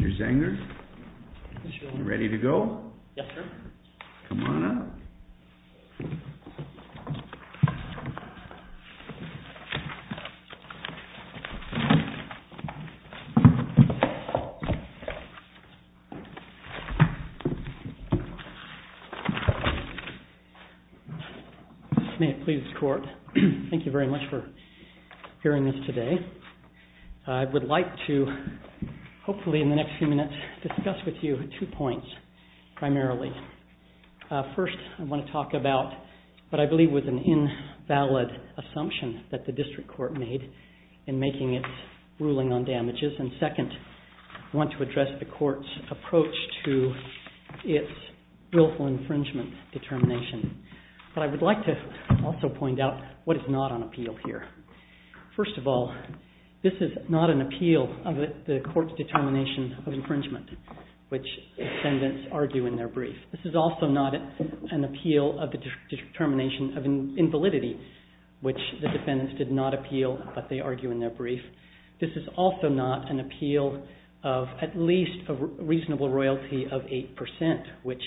Mr. Zenger, are you ready to go? Yes, sir. Come on up. May it please the Court, thank you very much for hearing this today. I would like to hopefully in the next few minutes discuss with you two points primarily. First, I want to talk about what I believe was an invalid assumption that the District Court made in making its ruling on damages and second, I want to address the Court's approach to its willful infringement determination, but I would like to also point out what is not on appeal here. First of all, this is not an appeal of the Court's determination of infringement, which defendants argue in their brief. This is also not an appeal of the determination of invalidity, which the defendants did not appeal, but they argue in their brief. This is also not an appeal of at least a reasonable royalty of 8%, which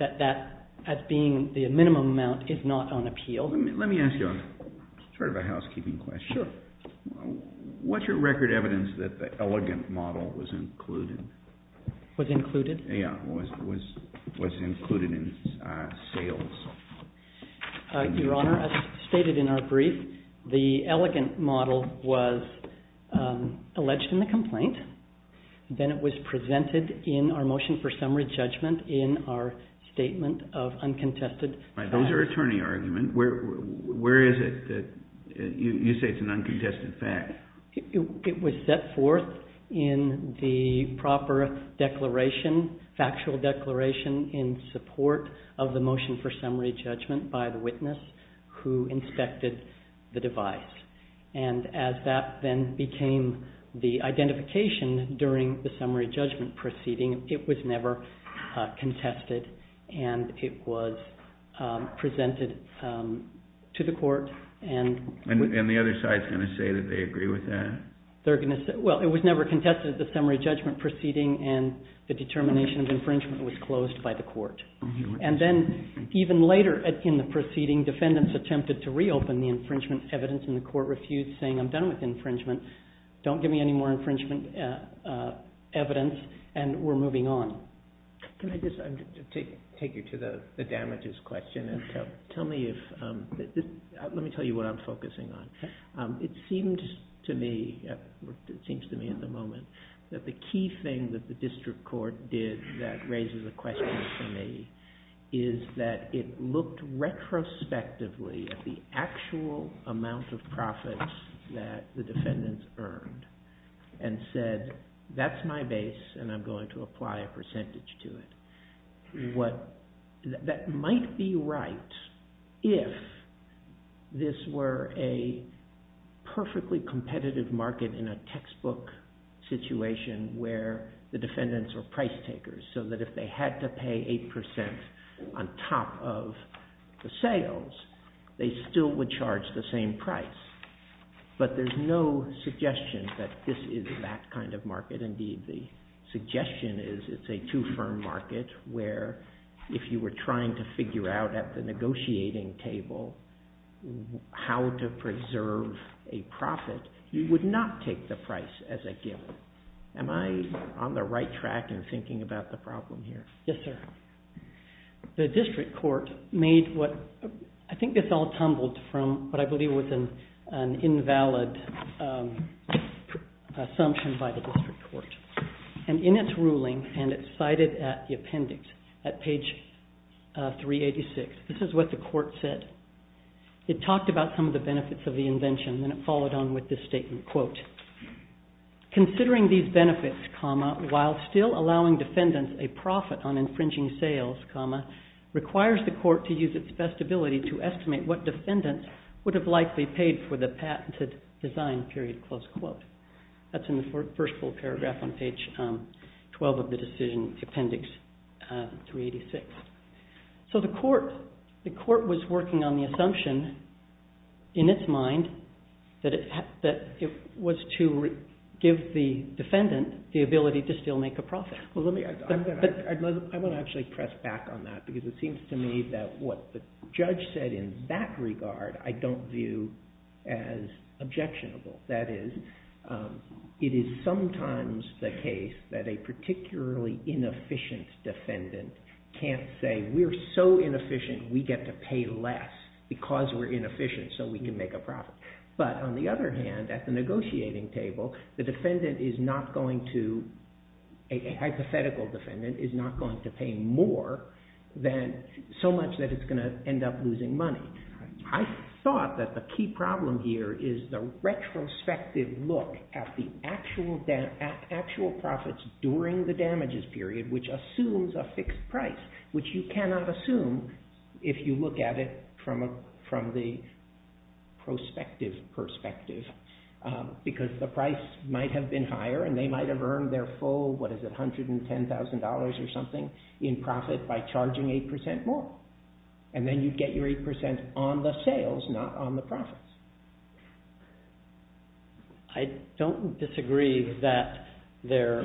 that as being the minimum amount is not on appeal. Let me ask you a sort of a housekeeping question. What's your record evidence that the elegant model was included? Was included? Yeah, was included in sales. Your Honor, as stated in our brief, the elegant model was alleged in the complaint, then it was presented in our motion for summary judgment in our statement of uncontested facts. Right, those are attorney arguments. Where is it that you say it's an uncontested fact? It was set forth in the proper declaration, factual declaration in support of the motion for summary judgment by the witness who inspected the device. And as that then became the identification during the summary judgment proceeding, it was never contested, and it was presented to the Court and... And the other side's going to say that they agree with that? They're going to say... Well, it was never contested at the summary judgment proceeding, and the determination of infringement was closed by the Court. And then, even later in the proceeding, defendants attempted to reopen the infringement evidence and the Court refused, saying, I'm done with infringement, don't give me any more infringement evidence, and we're moving on. Can I just take you to the damages question and tell me if, let me tell you what I'm focusing on. Okay. It seems to me, it seems to me at the moment, that the key thing that the District Court did that raises a question for me is that it looked retrospectively at the actual amount of profits that the defendants earned and said, that's my base, and I'm going to apply a percentage to it. That might be right if this were a perfectly competitive market in a textbook situation where the defendants were price takers, so that if they had to pay 8% on top of the sales, they still would charge the same price. But there's no suggestion that this is that kind of market. Indeed, the suggestion is it's a two-firm market where, if you were trying to figure out at the negotiating table how to preserve a profit, you would not take the price as a given. Am I on the right track in thinking about the problem here? Yes, sir. The District Court made what, I think this all tumbled from what I believe was an invalid assumption by the District Court. And in its ruling, and it's cited at the appendix, at page 386, this is what the court said. It talked about some of the benefits of the invention, and then it followed on with this statement, quote, considering these benefits, comma, while still allowing defendants a profit on infringing sales, comma, requires the court to use its best ability to estimate what defendants would have likely paid for the patented design, period, close quote. That's in the first full paragraph on page 12 of the decision, appendix 386. So the court was working on the assumption, in its mind, that it was to give the defendant the ability to still make a profit. I want to actually press back on that, because it seems to me that what the judge said in that regard I don't view as objectionable. That is, it is sometimes the case that a particularly inefficient defendant can't say, we're so inefficient, we get to pay less, because we're inefficient, so we can make a profit. But on the other hand, at the negotiating table, the defendant is not going to, a hypothetical defendant, is not going to pay more than so much that it's going to end up losing money. I thought that the key problem here is the retrospective look at the actual profits during the damages period, which assumes a fixed price, which you cannot assume if you look at it from the prospective perspective, because the price might have been higher, and they might have earned their full, what is it, $110,000 or something in profit by charging 8% more, and then you get your 8% on the sales, not on the profits. I don't disagree that they're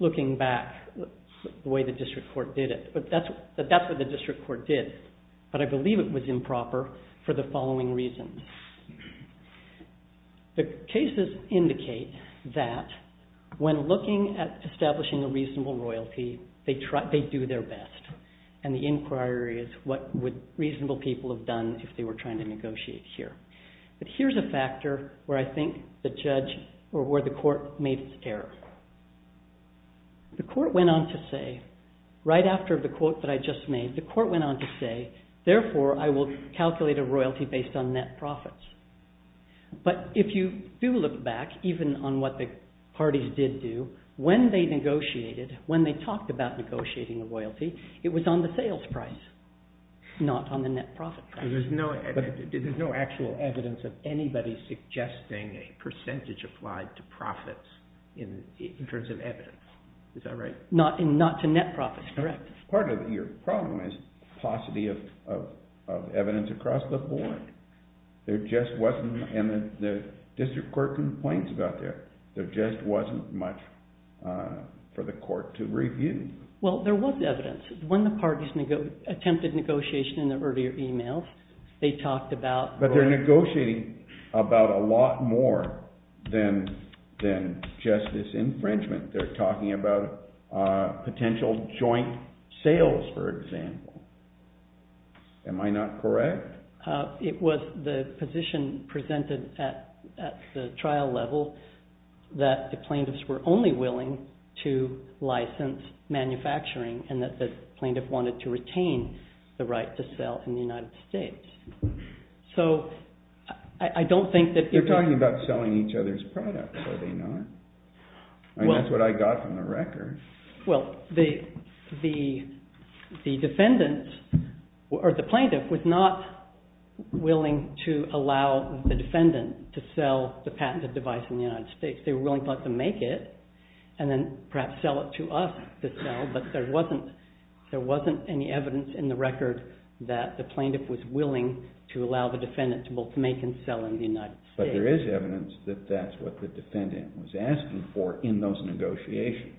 looking back the way the district court did it, but that's what the district court did. But I believe it was improper for the following reasons. The cases indicate that when looking at establishing a reasonable royalty, they do their best. And the inquiry is what would reasonable people have done if they were trying to negotiate here. But here's a factor where I think the court made its error. The court went on to say, right after the quote that I just made, the court went on to say, therefore, I will calculate a royalty based on net profits. But if you do look back, even on what the parties did do, when they negotiated, when they talked about negotiating the royalty, it was on the sales price, not on the net profit price. There's no actual evidence of anybody suggesting a percentage applied to profits in terms of evidence. Is that right? Not to net profits, correct. Part of your problem is paucity of evidence across the board. There just wasn't, and the district court complains about that. There just wasn't much for the court to review. Well, there was evidence. When the parties attempted negotiation in the earlier emails, they talked about... But they're negotiating about a lot more than just this infringement. They're talking about potential joint sales, for example. Am I not correct? It was the position presented at the trial level that the plaintiffs were only willing to license manufacturing, and that the plaintiff wanted to retain the right to sell in the United States. So I don't think that... They're talking about selling each other's products, are they not? I mean, that's what I got from the record. Well, the defendant, or the plaintiff, was not willing to allow the defendant to sell the patented device in the United States. They were willing to let them make it, and then perhaps sell it to us to sell, but there wasn't any evidence in the record that the plaintiff was willing to allow the defendant to both make and sell in the United States. But there is evidence that that's what the defendant was asking for in those negotiations.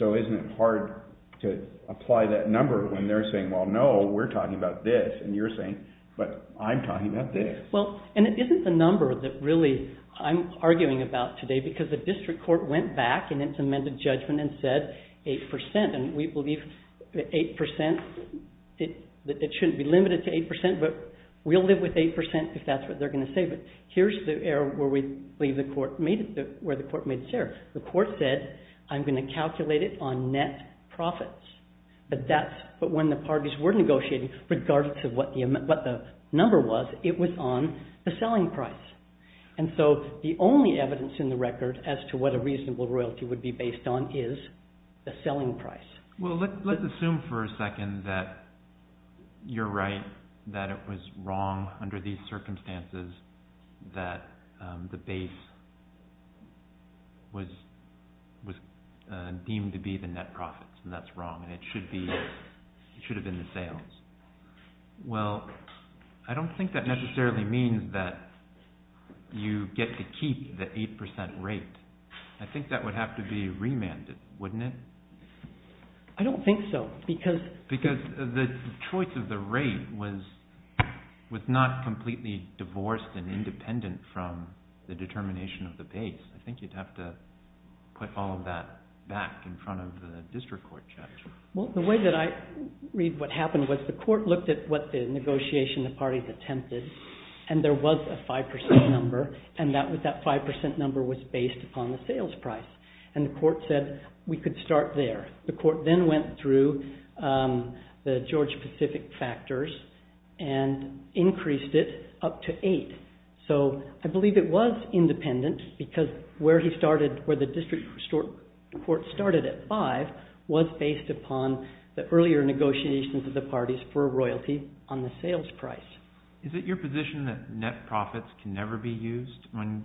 So isn't it hard to apply that number when they're saying, well, no, we're talking about this, and you're saying, but I'm talking about this. And it isn't the number that really I'm arguing about today, because the district court went back in its amended judgment and said 8%, and we believe that 8%... That it shouldn't be limited to 8%, but we'll live with 8% if that's what they're going to say. But here's the error where we believe the court made this error. The court said, I'm going to calculate it on net profits. But when the parties were negotiating, regardless of what the number was, it was on the selling price. And so the only evidence in the record as to what a reasonable royalty would be based on is the selling price. Well, let's assume for a second that you're right, that it was wrong under these circumstances that the base was deemed to be the net profits, and that's wrong, and it should have been the sales. Well, I don't think that necessarily means that you get to keep the 8% rate. I think that would have to be remanded, wouldn't it? I don't think so, because... Because the choice of the rate was not completely divorced and independent from the determination of the base. I think you'd have to put all of that back in front of the district court judge. Well, the way that I read what happened was the court looked at what the negotiation the parties attempted, and there was a 5% number, and that 5% number was based upon the sales price. And the court said, we could start there. The court then went through the George Pacific factors and increased it up to 8. So I believe it was independent, because where the district court started at 5 was based upon the earlier negotiations of the parties for royalty on the sales price. Is it your position that net profits can never be used when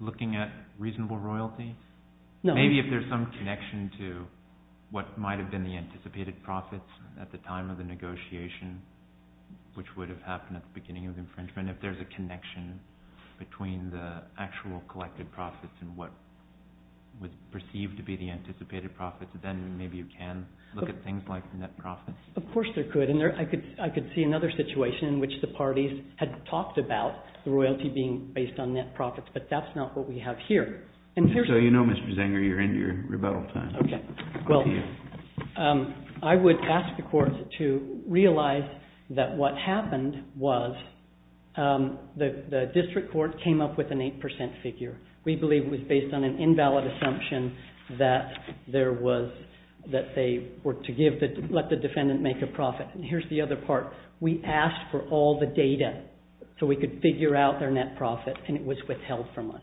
looking at reasonable royalty? Maybe if there's some connection to what might have been the anticipated profits at the time of the negotiation, which would have happened at the beginning of infringement, if there's a connection between the actual collected profits and what was perceived to be the anticipated profits, then maybe you can look at things like the net profits. Of course there could, and I could see another situation in which the parties had talked about the royalty being based on net profits, but that's not what we have here. So you know, Mr. Zenger, you're into your rebuttal time. Well, I would ask the court to realize that what happened was the district court came up with an 8% figure. We believe it was based on an invalid assumption that they were to let the defendant make a profit. And here's the other part. We asked for all the data so we could figure out their net profit, and it was withheld from us.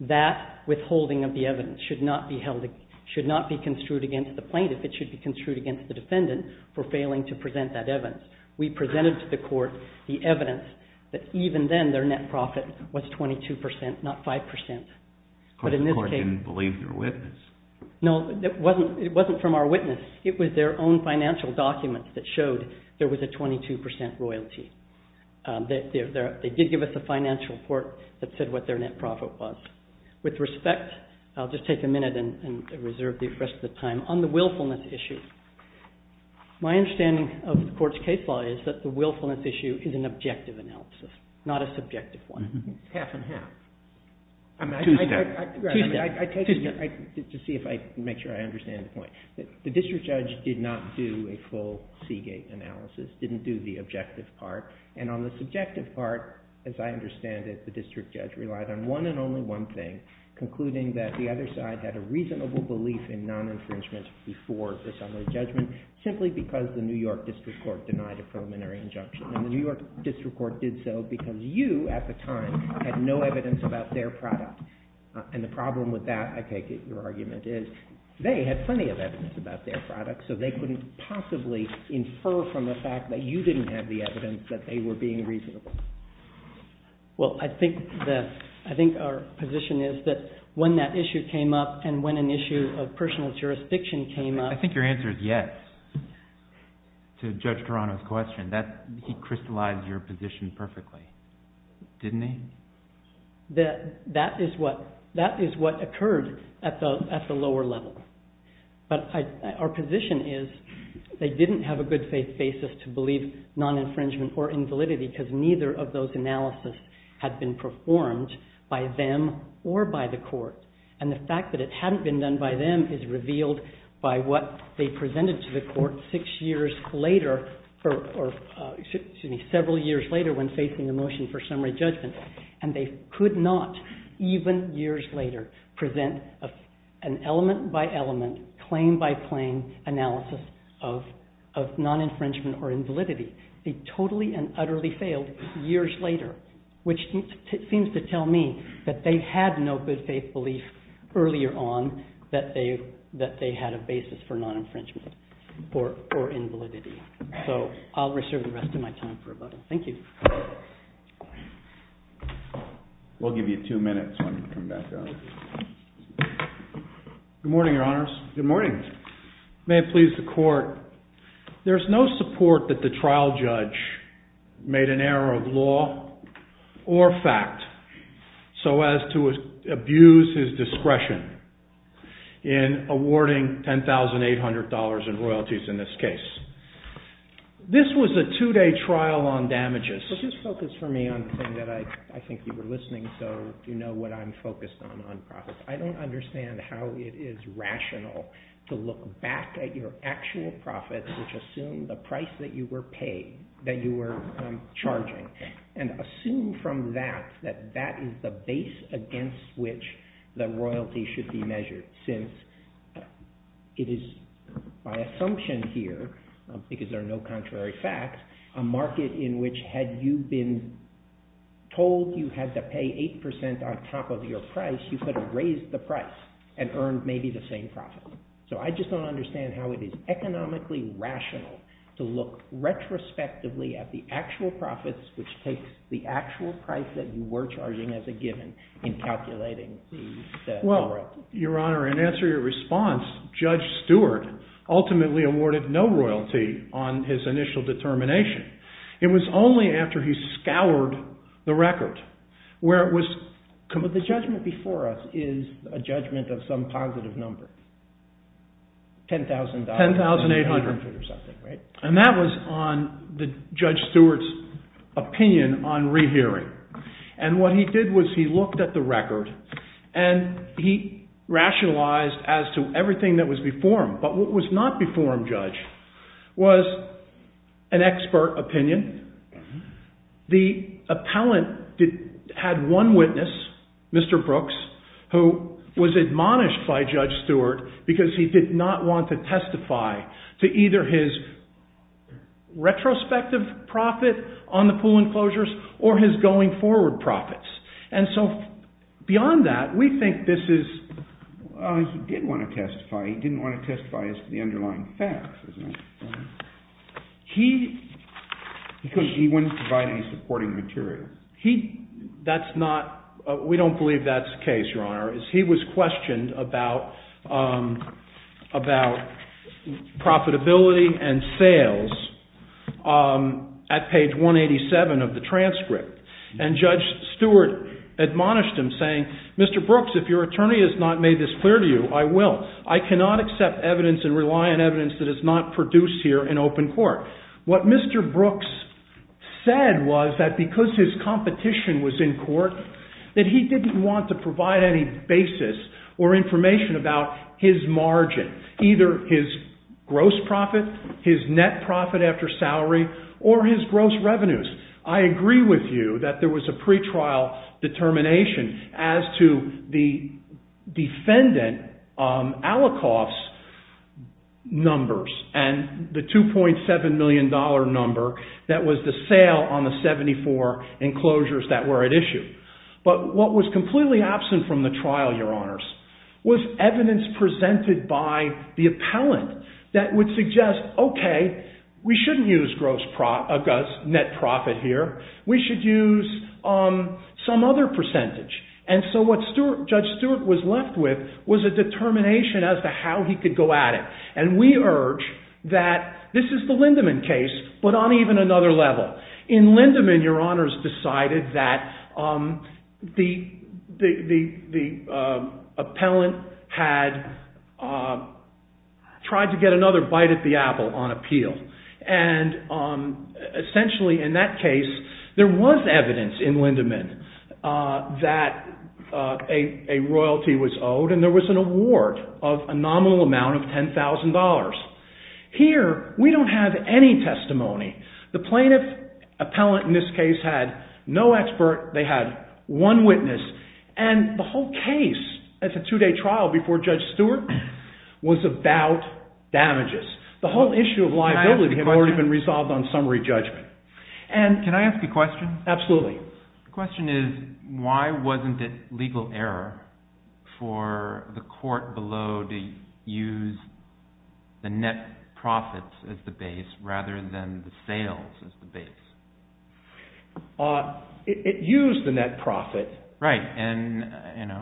That withholding of the evidence should not be construed against the plaintiff. It should be construed against the defendant for failing to present that evidence. We presented to the court the evidence that even then their net profit was 22%, not 5%. But the court didn't believe their witness. No, it wasn't from our witness. It was their own financial documents that showed there was a 22% royalty. They did give us a financial report that said what their net profit was. With respect, I'll just take a minute and reserve the rest of the time. On the willfulness issue, my understanding of the court's case law is that the willfulness issue is an objective analysis, not a subjective one. Half and half. I mean, I take it to see if I make sure I understand the point. The district judge did not do a full Seagate analysis, didn't do the objective part. And on the subjective part, as I understand it, the district judge relied on one and only one thing, concluding that the other side had a reasonable belief in non-infringement before the summary judgment simply because the New York District Court denied a preliminary injunction. And the New York District Court did so because you, at the time, had no evidence about their product. And the problem with that, I take it, your argument is they had plenty of evidence about their product, so they couldn't possibly infer from the fact that you didn't have the evidence that they were being reasonable. Well, I think our position is that when that issue came up and when an issue of personal jurisdiction came up... I think your answer is yes to Judge Toronto's question. He crystallized your position perfectly, didn't he? That is what occurred at the lower level. But our position is they didn't have a good faith basis to believe non-infringement or invalidity because neither of those analysis had been performed by them or by the court. And the fact that it hadn't been done by them is revealed by what they presented to the court six years later, or excuse me, several years later when facing a motion for summary judgment. And they could not, even years later, present an element-by-element, claim-by-claim analysis of non-infringement or invalidity. They totally and utterly failed years later, which seems to tell me that they had no good faith belief earlier on that they had a basis for non-infringement or invalidity. So I'll reserve the rest of my time for a moment. Thank you. We'll give you two minutes when we come back down. Good morning, Your Honors. Good morning. May it please the Court, there's no support that the trial judge made an error of law or fact so as to abuse his discretion in awarding $10,800 in royalties in this case. This was a two-day trial on damages. So just focus for me on the thing that I think you were listening, so you know what I'm focused on, on profits. I don't understand how it is rational to look back at your actual profits, which assume the price that you were paid, that you were charging, and assume from that that that is the base against which the royalty should be measured, since it is by assumption here, because there are no contrary facts, a market in which had you been told you had to pay 8% on top of your price, you could have raised the price and earned maybe the same profit. So I just don't understand how it is economically rational to look retrospectively at the actual profits, which takes the actual price that you were charging as a given in calculating the royalties. Well, Your Honor, in answer to your response, Judge Stewart ultimately awarded no royalty on his initial determination. It was only after he scoured the record where it was... But the judgment before us is a judgment of some positive number, $10,800 or something, right? And that was on Judge Stewart's opinion on rehearing. And what he did was he looked at the record, and he rationalized as to everything that was before him. But what was not before him, Judge, was an expert opinion. The appellant had one witness, Mr. Brooks, who was admonished by Judge Stewart because he did not want to testify to either his retrospective profit on the pool enclosures or his going forward profits. And so beyond that, we think this is... He did want to testify. He didn't want to testify as to the underlying facts, isn't it? Because he wouldn't provide any supporting material. He... That's not... We don't believe that's the case, Your Honor, is he was questioned about profitability and sales at page 187 of the transcript. And Judge Stewart admonished him saying, Mr. Brooks, if your attorney has not made this clear to you, I will. I cannot accept evidence and rely on evidence that is not produced here in open court. What Mr. Brooks said was that because his competition was in court, that he didn't want to provide any basis or information about his margin, either his gross profit, his net profit after salary, or his gross revenues. I agree with you that there was a pretrial determination as to the defendant, Alikoff's numbers, and the $2.7 million number, and the fact that that was the sale on the 74 enclosures that were at issue. But what was completely absent from the trial, Your Honors, was evidence presented by the appellant that would suggest, okay, we shouldn't use gross net profit here. We should use some other percentage. And so what Judge Stewart was left with was a determination as to how he could go at it. And we urge that this is the Lindemann case, but on even another level. In Lindemann, Your Honors decided that the appellant had tried to get another bite at the apple on appeal. And essentially in that case, there was evidence in Lindemann that a royalty was owed and there was an award of a nominal amount of $10,000. Here, we don't have any testimony. The plaintiff appellant in this case had no expert. They had one witness. And the whole case as a two-day trial before Judge Stewart was about damages. The whole issue of liability had already been resolved on summary judgment. Can I ask a question? Absolutely. The question is, why wasn't it legal error for the court below to use the net profit as the base rather than the sales as the base? It used the net profit. Right. And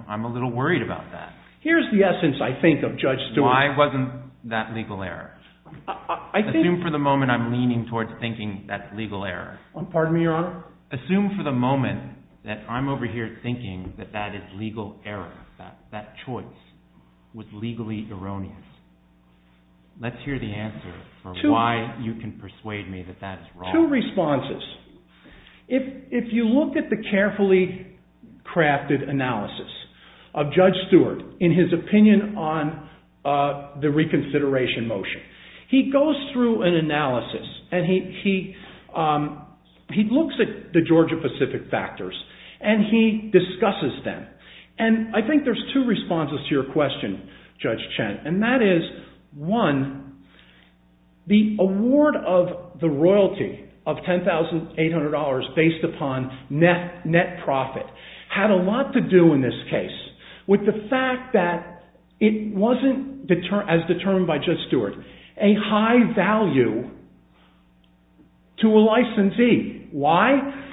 I'm a little worried about that. Here's the essence, I think, of Judge Stewart's... Why wasn't that legal error? Assume for the moment I'm leaning towards thinking that's legal error. Pardon me, Your Honor? Assume for the moment that I'm over here thinking that that is legal error, that choice was legally erroneous. Let's hear the answer for why you can persuade me that that is wrong. Two responses. If you look at the carefully crafted analysis of Judge Stewart in his opinion on the reconsideration motion, he goes through an analysis and he looks at cases where the Georgia Pacific factors and he discusses them. And I think there's two responses to your question, Judge Chen, and that is, one, the award of the royalty of $10,800 based upon net profit had a lot to do in this case with the fact that it wasn't as determined by Judge Stewart a high value to a licensee. Why?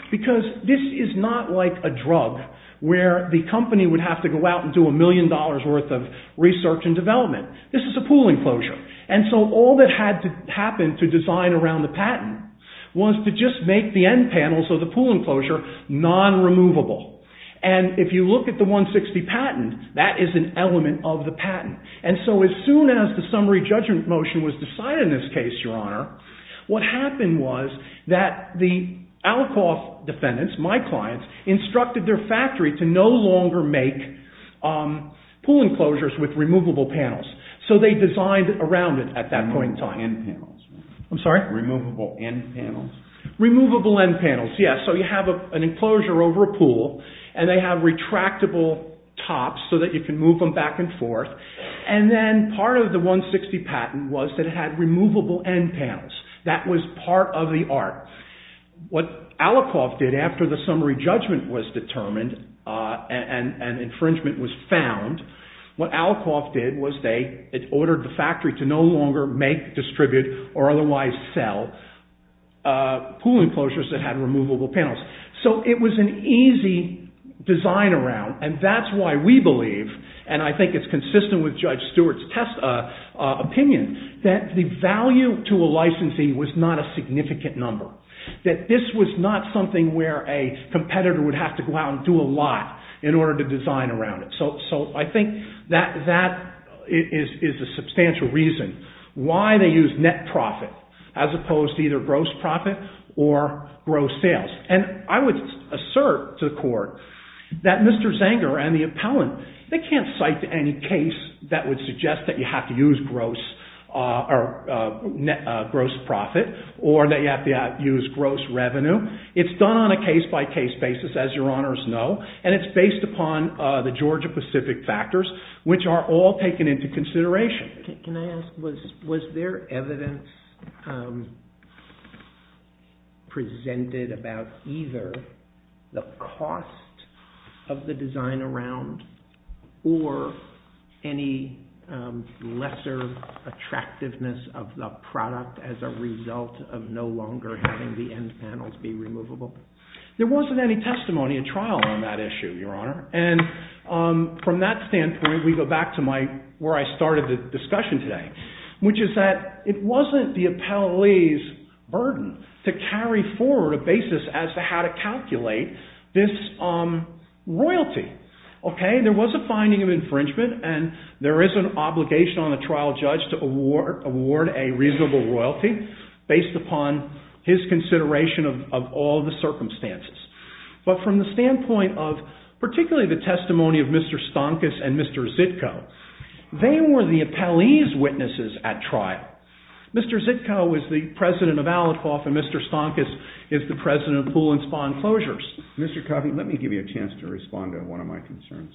Because this is not like a drug where the company would have to go out and do a million dollars worth of research and development. This is a pool enclosure. And so all that had to happen to design around the patent was to just make the end panels of the pool enclosure non-removable. And if you look at the 160 patent, that is an element of the patent. And so as soon as the summary judgment motion was decided in this case, Your Honor, what I did was I, myself, defendants, my clients, instructed their factory to no longer make pool enclosures with removable panels. So they designed around it at that point in time. Removable end panels. I'm sorry? Removable end panels. Removable end panels, yes. So you have an enclosure over a pool and they have retractable tops so that you can move them back and forth. And then part of the 160 patent was that it had removable end panels. That was part of the art. What Alikoff did after the summary judgment was determined and infringement was found, what Alikoff did was they, it ordered the factory to no longer make, distribute, or otherwise sell pool enclosures that had removable panels. So it was an easy design around. And that's why we believe, and I think it's consistent with Judge Stewart's opinion, that the value to a licensee was not a significant number. That this was not something where a competitor would have to go out and do a lot in order to design around it. So I think that is a substantial reason why they used net profit as opposed to either gross profit or gross sales. And I would assert to the court that Mr. Zenger and the appellant, they can't cite any case that would suggest that you have to use gross profit or that you have to use gross revenue. It's done on a case-by-case basis, as your honors know, and it's based upon the Georgia Pacific factors, which are all taken into consideration. Can I ask, was there evidence presented about either the cost of the design around or any lesser attractiveness of the product as a result of no longer having the end panels be removable? There wasn't any testimony in trial on that issue, your honor. And from that standpoint, we go back to where I started the discussion today, which is that it wasn't the appellee's burden to carry forward a basis as to how to calculate this royalty. There was a finding of infringement and there is an obligation on the trial judge to award a reasonable royalty based upon his consideration of all the circumstances. But from the standpoint of, particularly the testimony of Mr. Stankus and Mr. Zitko, they were the appellee's witnesses at trial. Mr. Zitko was the president of Alicoff and Mr. Stankus is the president of Pool and Spawn Closures. Mr. Coffey, let me give you a chance to respond to one of my concerns.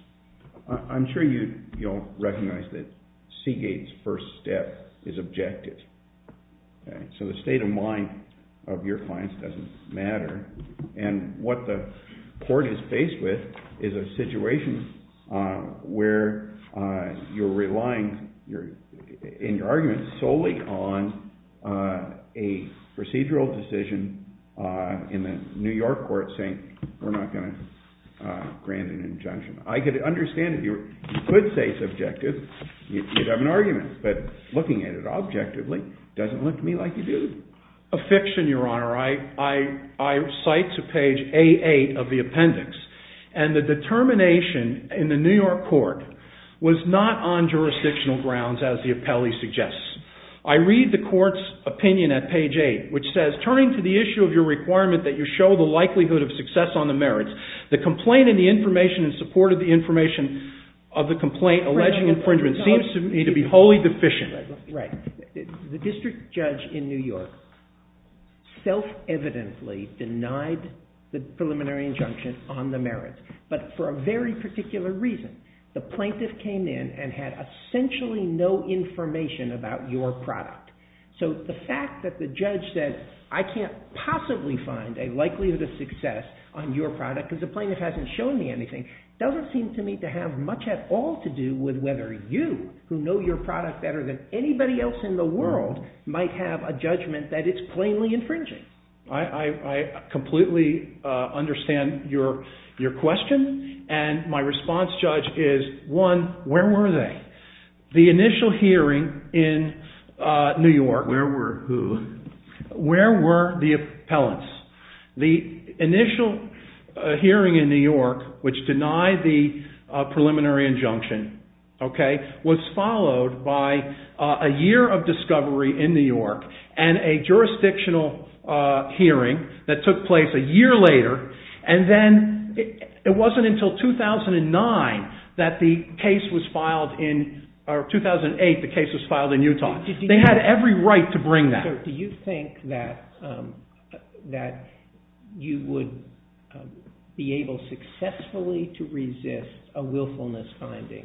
I'm sure you'll recognize that Seagate's first step is objective. So the state of mind of your clients doesn't matter. And what the court is faced with is a situation where you're relying in your argument solely on a procedural decision in the New York court saying we're not going to grant an injunction. I could understand if you could say subjective, you'd have an argument. But looking at it objectively, it doesn't look to me like you do. A fiction, Your Honor. I cite to page A8 of the appendix. And the determination in the New York court was not on jurisdictional grounds as the appellee suggests. I read the court's opinion at page 8 which says, turning to the issue of your requirement that you show the likelihood of success on the merits, the complaint and the information and support of the information of the complaint alleging infringement seems to me to be wholly deficient. Right. The district judge in New York self-evidently denied the preliminary injunction on the merits. But for a very particular reason. The plaintiff came in and had essentially no information about your product. So the fact that the judge said I can't possibly find a likelihood of success on your product because the plaintiff hasn't shown me anything, doesn't seem to me to have much at all to do with whether you, who know your product better than anybody else in the world, might have a judgment that it's plainly infringing. I completely understand your question. And my response, Judge, is one, where were they? The initial hearing in New York. Where were who? Where were the appellants? The initial hearing in New York which denied the preliminary injunction was followed by a year of discovery in New York and a jurisdictional hearing that took place a year later. And then it wasn't until 2009 that the case was filed in, or 2008 the case was filed in, in New York. And I think that's a very, very right to bring that. So do you think that you would be able successfully to resist a willfulness finding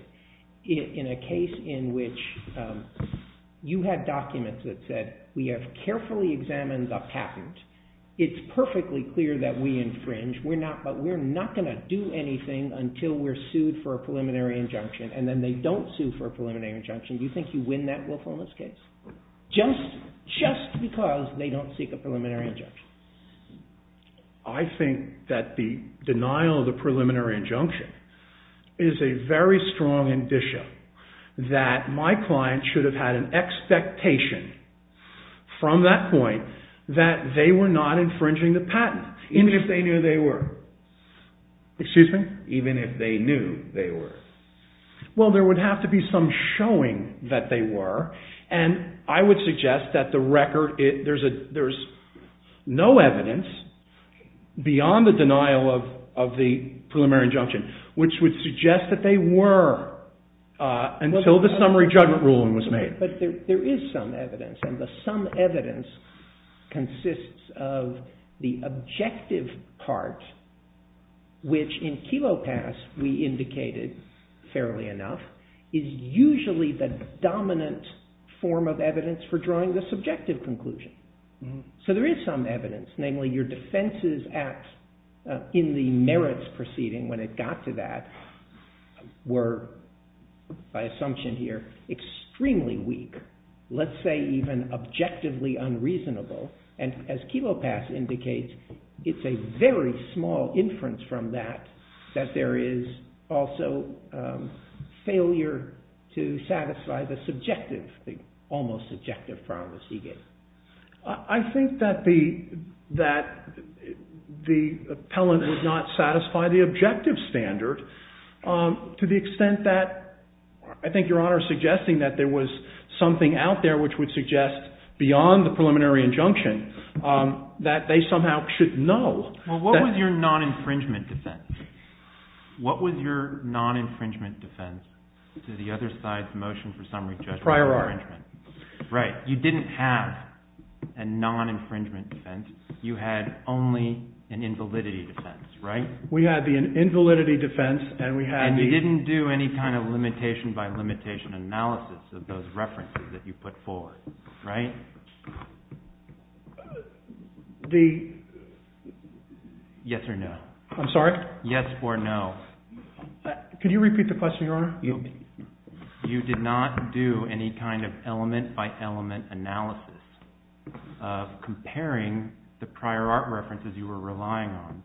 in a case in which you had documents that said we have carefully examined the patent. It's perfectly clear that we infringe. But we're not going to do anything until we're sued for a preliminary injunction. And then they don't sue for a preliminary injunction. Do you think you win that willfulness case? Just because they don't seek a preliminary injunction. I think that the denial of the preliminary injunction is a very strong indicia that my client should have had an expectation from that point that they were not infringing the patent, even if they knew they were. Excuse me? Even if they knew they were. Well, there would have to be some showing that they were. And I would suggest that the record, there's no evidence beyond the denial of the preliminary injunction, which would suggest that they were until the summary judgment ruling was made. But there is some evidence. And the some evidence consists of the objective part, which in Kelo Pass we indicated fairly enough, is usually the dominant form of evidence for drawing the subjective conclusion. So there is some evidence. Namely, your defenses in the merits proceeding when it got to that were, by assumption here, extremely weak. Let's say even objectively unreasonable. And as Kelo Pass indicates, it's a very small inference from that that there is also failure to satisfy the subjective, the almost subjective, from the Seegate. I think that the appellant would not satisfy the objective standard to the extent that I think Your Honor is suggesting that there was something out there which would suggest beyond the preliminary injunction, that they somehow should know. Well, what was your non-infringement defense? What was your non-infringement defense to the other side's motion for summary judgment infringement? Prior art. Right. You didn't have a non-infringement defense. You had only an invalidity defense, right? We had the invalidity defense and we had the... And you didn't do any kind of limitation by limitation analysis of those references that you put forward, right? The... Yes or no? I'm sorry? Yes or no? Could you repeat the question, Your Honor? You did not do any kind of element by element analysis of comparing the prior art references you were relying on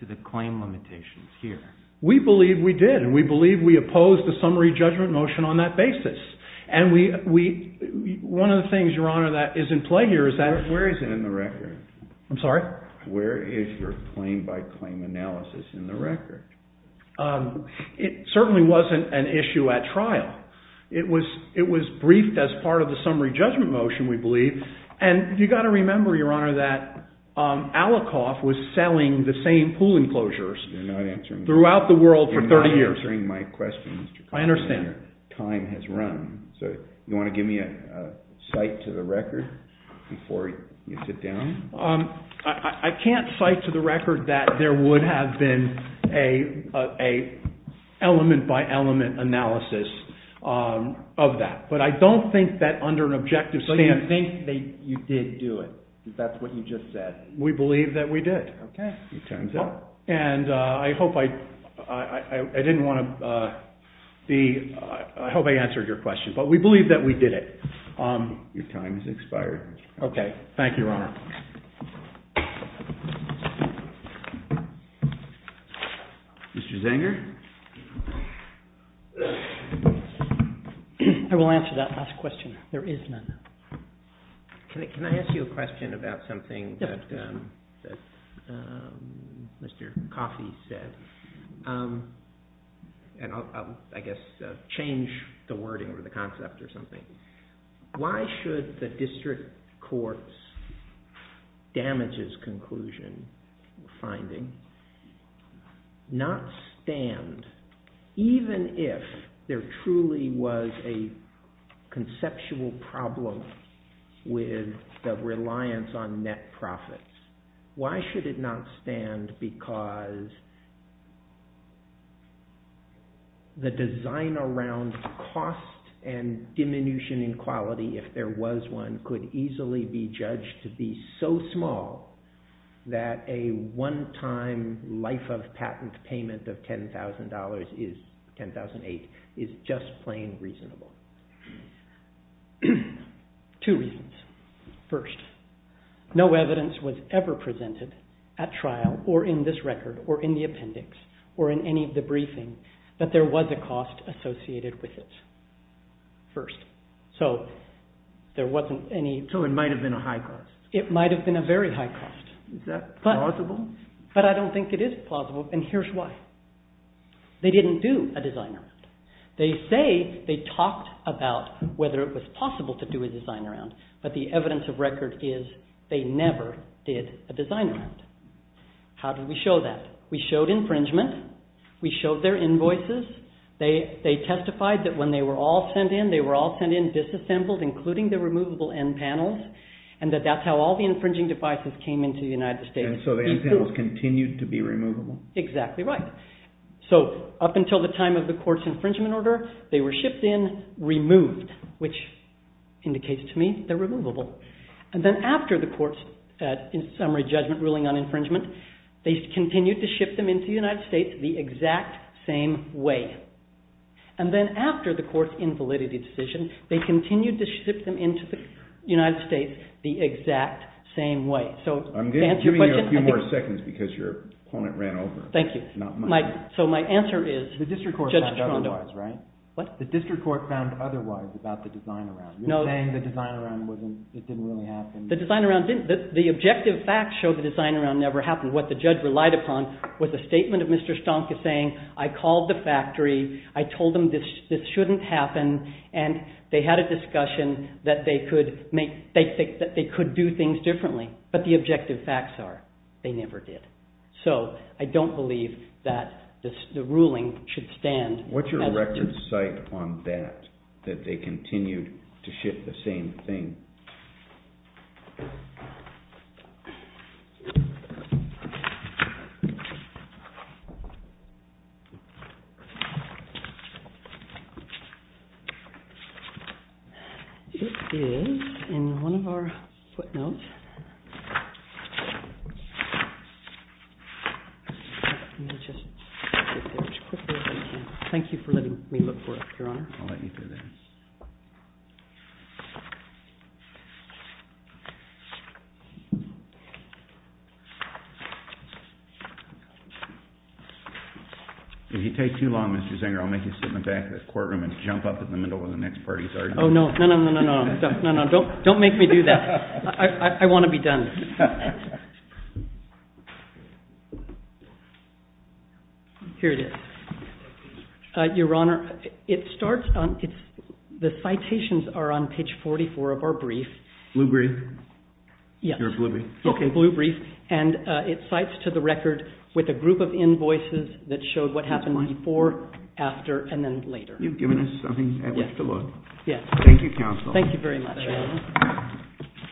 to the claim limitations here. We believe we did. And we believe we opposed the summary judgment motion on that basis. And we... One of the things, Your Honor, that is in play here is that... Where is it in the record? I'm sorry? Where is your claim by claim analysis in the record? It certainly wasn't an issue at trial. It was briefed as part of the summary judgment motion, we believe. And you've got to remember, Your Honor, that Allikoff was selling the same pool enclosures... You're not answering the question. ...throughout the world for 30 years. You're not answering my question, Mr. Connolly, Your Honor. I understand. Time has run. So you want to give me a cite to the record before you sit down? I can't cite to the record that there would have been a element by element analysis of that. But I don't think that under an objective stance... So you think that you did do it, because that's what you just said? We believe that we did. Okay. It turns out. And I hope I didn't want to be... I hope I answered your question. But we believe that we did it. Your time has expired. Okay. Thank you, Your Honor. Mr. Zenger? I will answer that last question. There is none. Can I ask you a question about something that... Yes. ...that Mr. Coffey said. And I'll, I guess, change the wording or the concept or something. Why should the district court's damages conclusion finding not stand, even if there truly was a conceptual problem with the reliance on net profits? Why should it not stand because the design around cost and diminution in quality, if there was one, could easily be judged to be so small that a one-time life of patent payment of $10,000 is, $10,008, is just plain reasonable? Two reasons. First, no evidence was ever presented at trial or in this record or in the appendix or in any of the briefing that there was a cost associated with it. First. So there wasn't any... So it might have been a high cost. It might have been a very high cost. Is that plausible? But I don't think it is plausible. And here's why. They didn't do a design around. They say they talked about whether it was possible to do a design around, but the evidence of record is they never did a design around. How did we show that? We showed infringement. We showed their invoices. They testified that when they were all sent in, they were all sent in disassembled, including the removable end panels, and that that's how all the infringing devices came into the United States. And so the end panels continued to be removable? Exactly right. So up until the time of the court's infringement order, they were shipped in, removed, which indicates to me they're removable. And then after the court's, in summary, judgment ruling on infringement, they continued to ship them into the United States the exact same way. And then after the court's invalidity decision, they continued to ship them into the United States the exact same way. I'm giving you a few more seconds because your opponent ran over. Thank you. So my answer is, Judge Trondo... The district court found otherwise, right? What? The district court found otherwise about the design around. You're saying the design around didn't really happen. The design around didn't. The objective facts show the design around never happened. What the judge relied upon was a statement of Mr. Stonk saying, I called the factory, I told them this shouldn't happen, and they had a discussion that they could do things differently. But the objective facts are, they never did. So I don't believe that the ruling should stand as a... What's your record site on that, that they continued to ship the same thing? It is in one of our footnotes. Let me just get there as quickly as I can. Thank you for letting me look for it, Your Honor. I'll let you through there. If you take too long, Mr. Zenger, I'll make you sit in the back of the courtroom and jump up in the middle of the next party's argument. Oh, no. No, no, no, no, no. Don't make me do that. I want to be done. Here it is. Your Honor, it starts on... The citations are on page 44 of our brief. Blue brief? Yes. You're a blue brief. Okay, blue brief. And it cites to the record with a group of invoices that showed what happened before, after, and then later. You've given us something at which to look. Yes. Thank you, counsel. Thank you very much, Your Honor.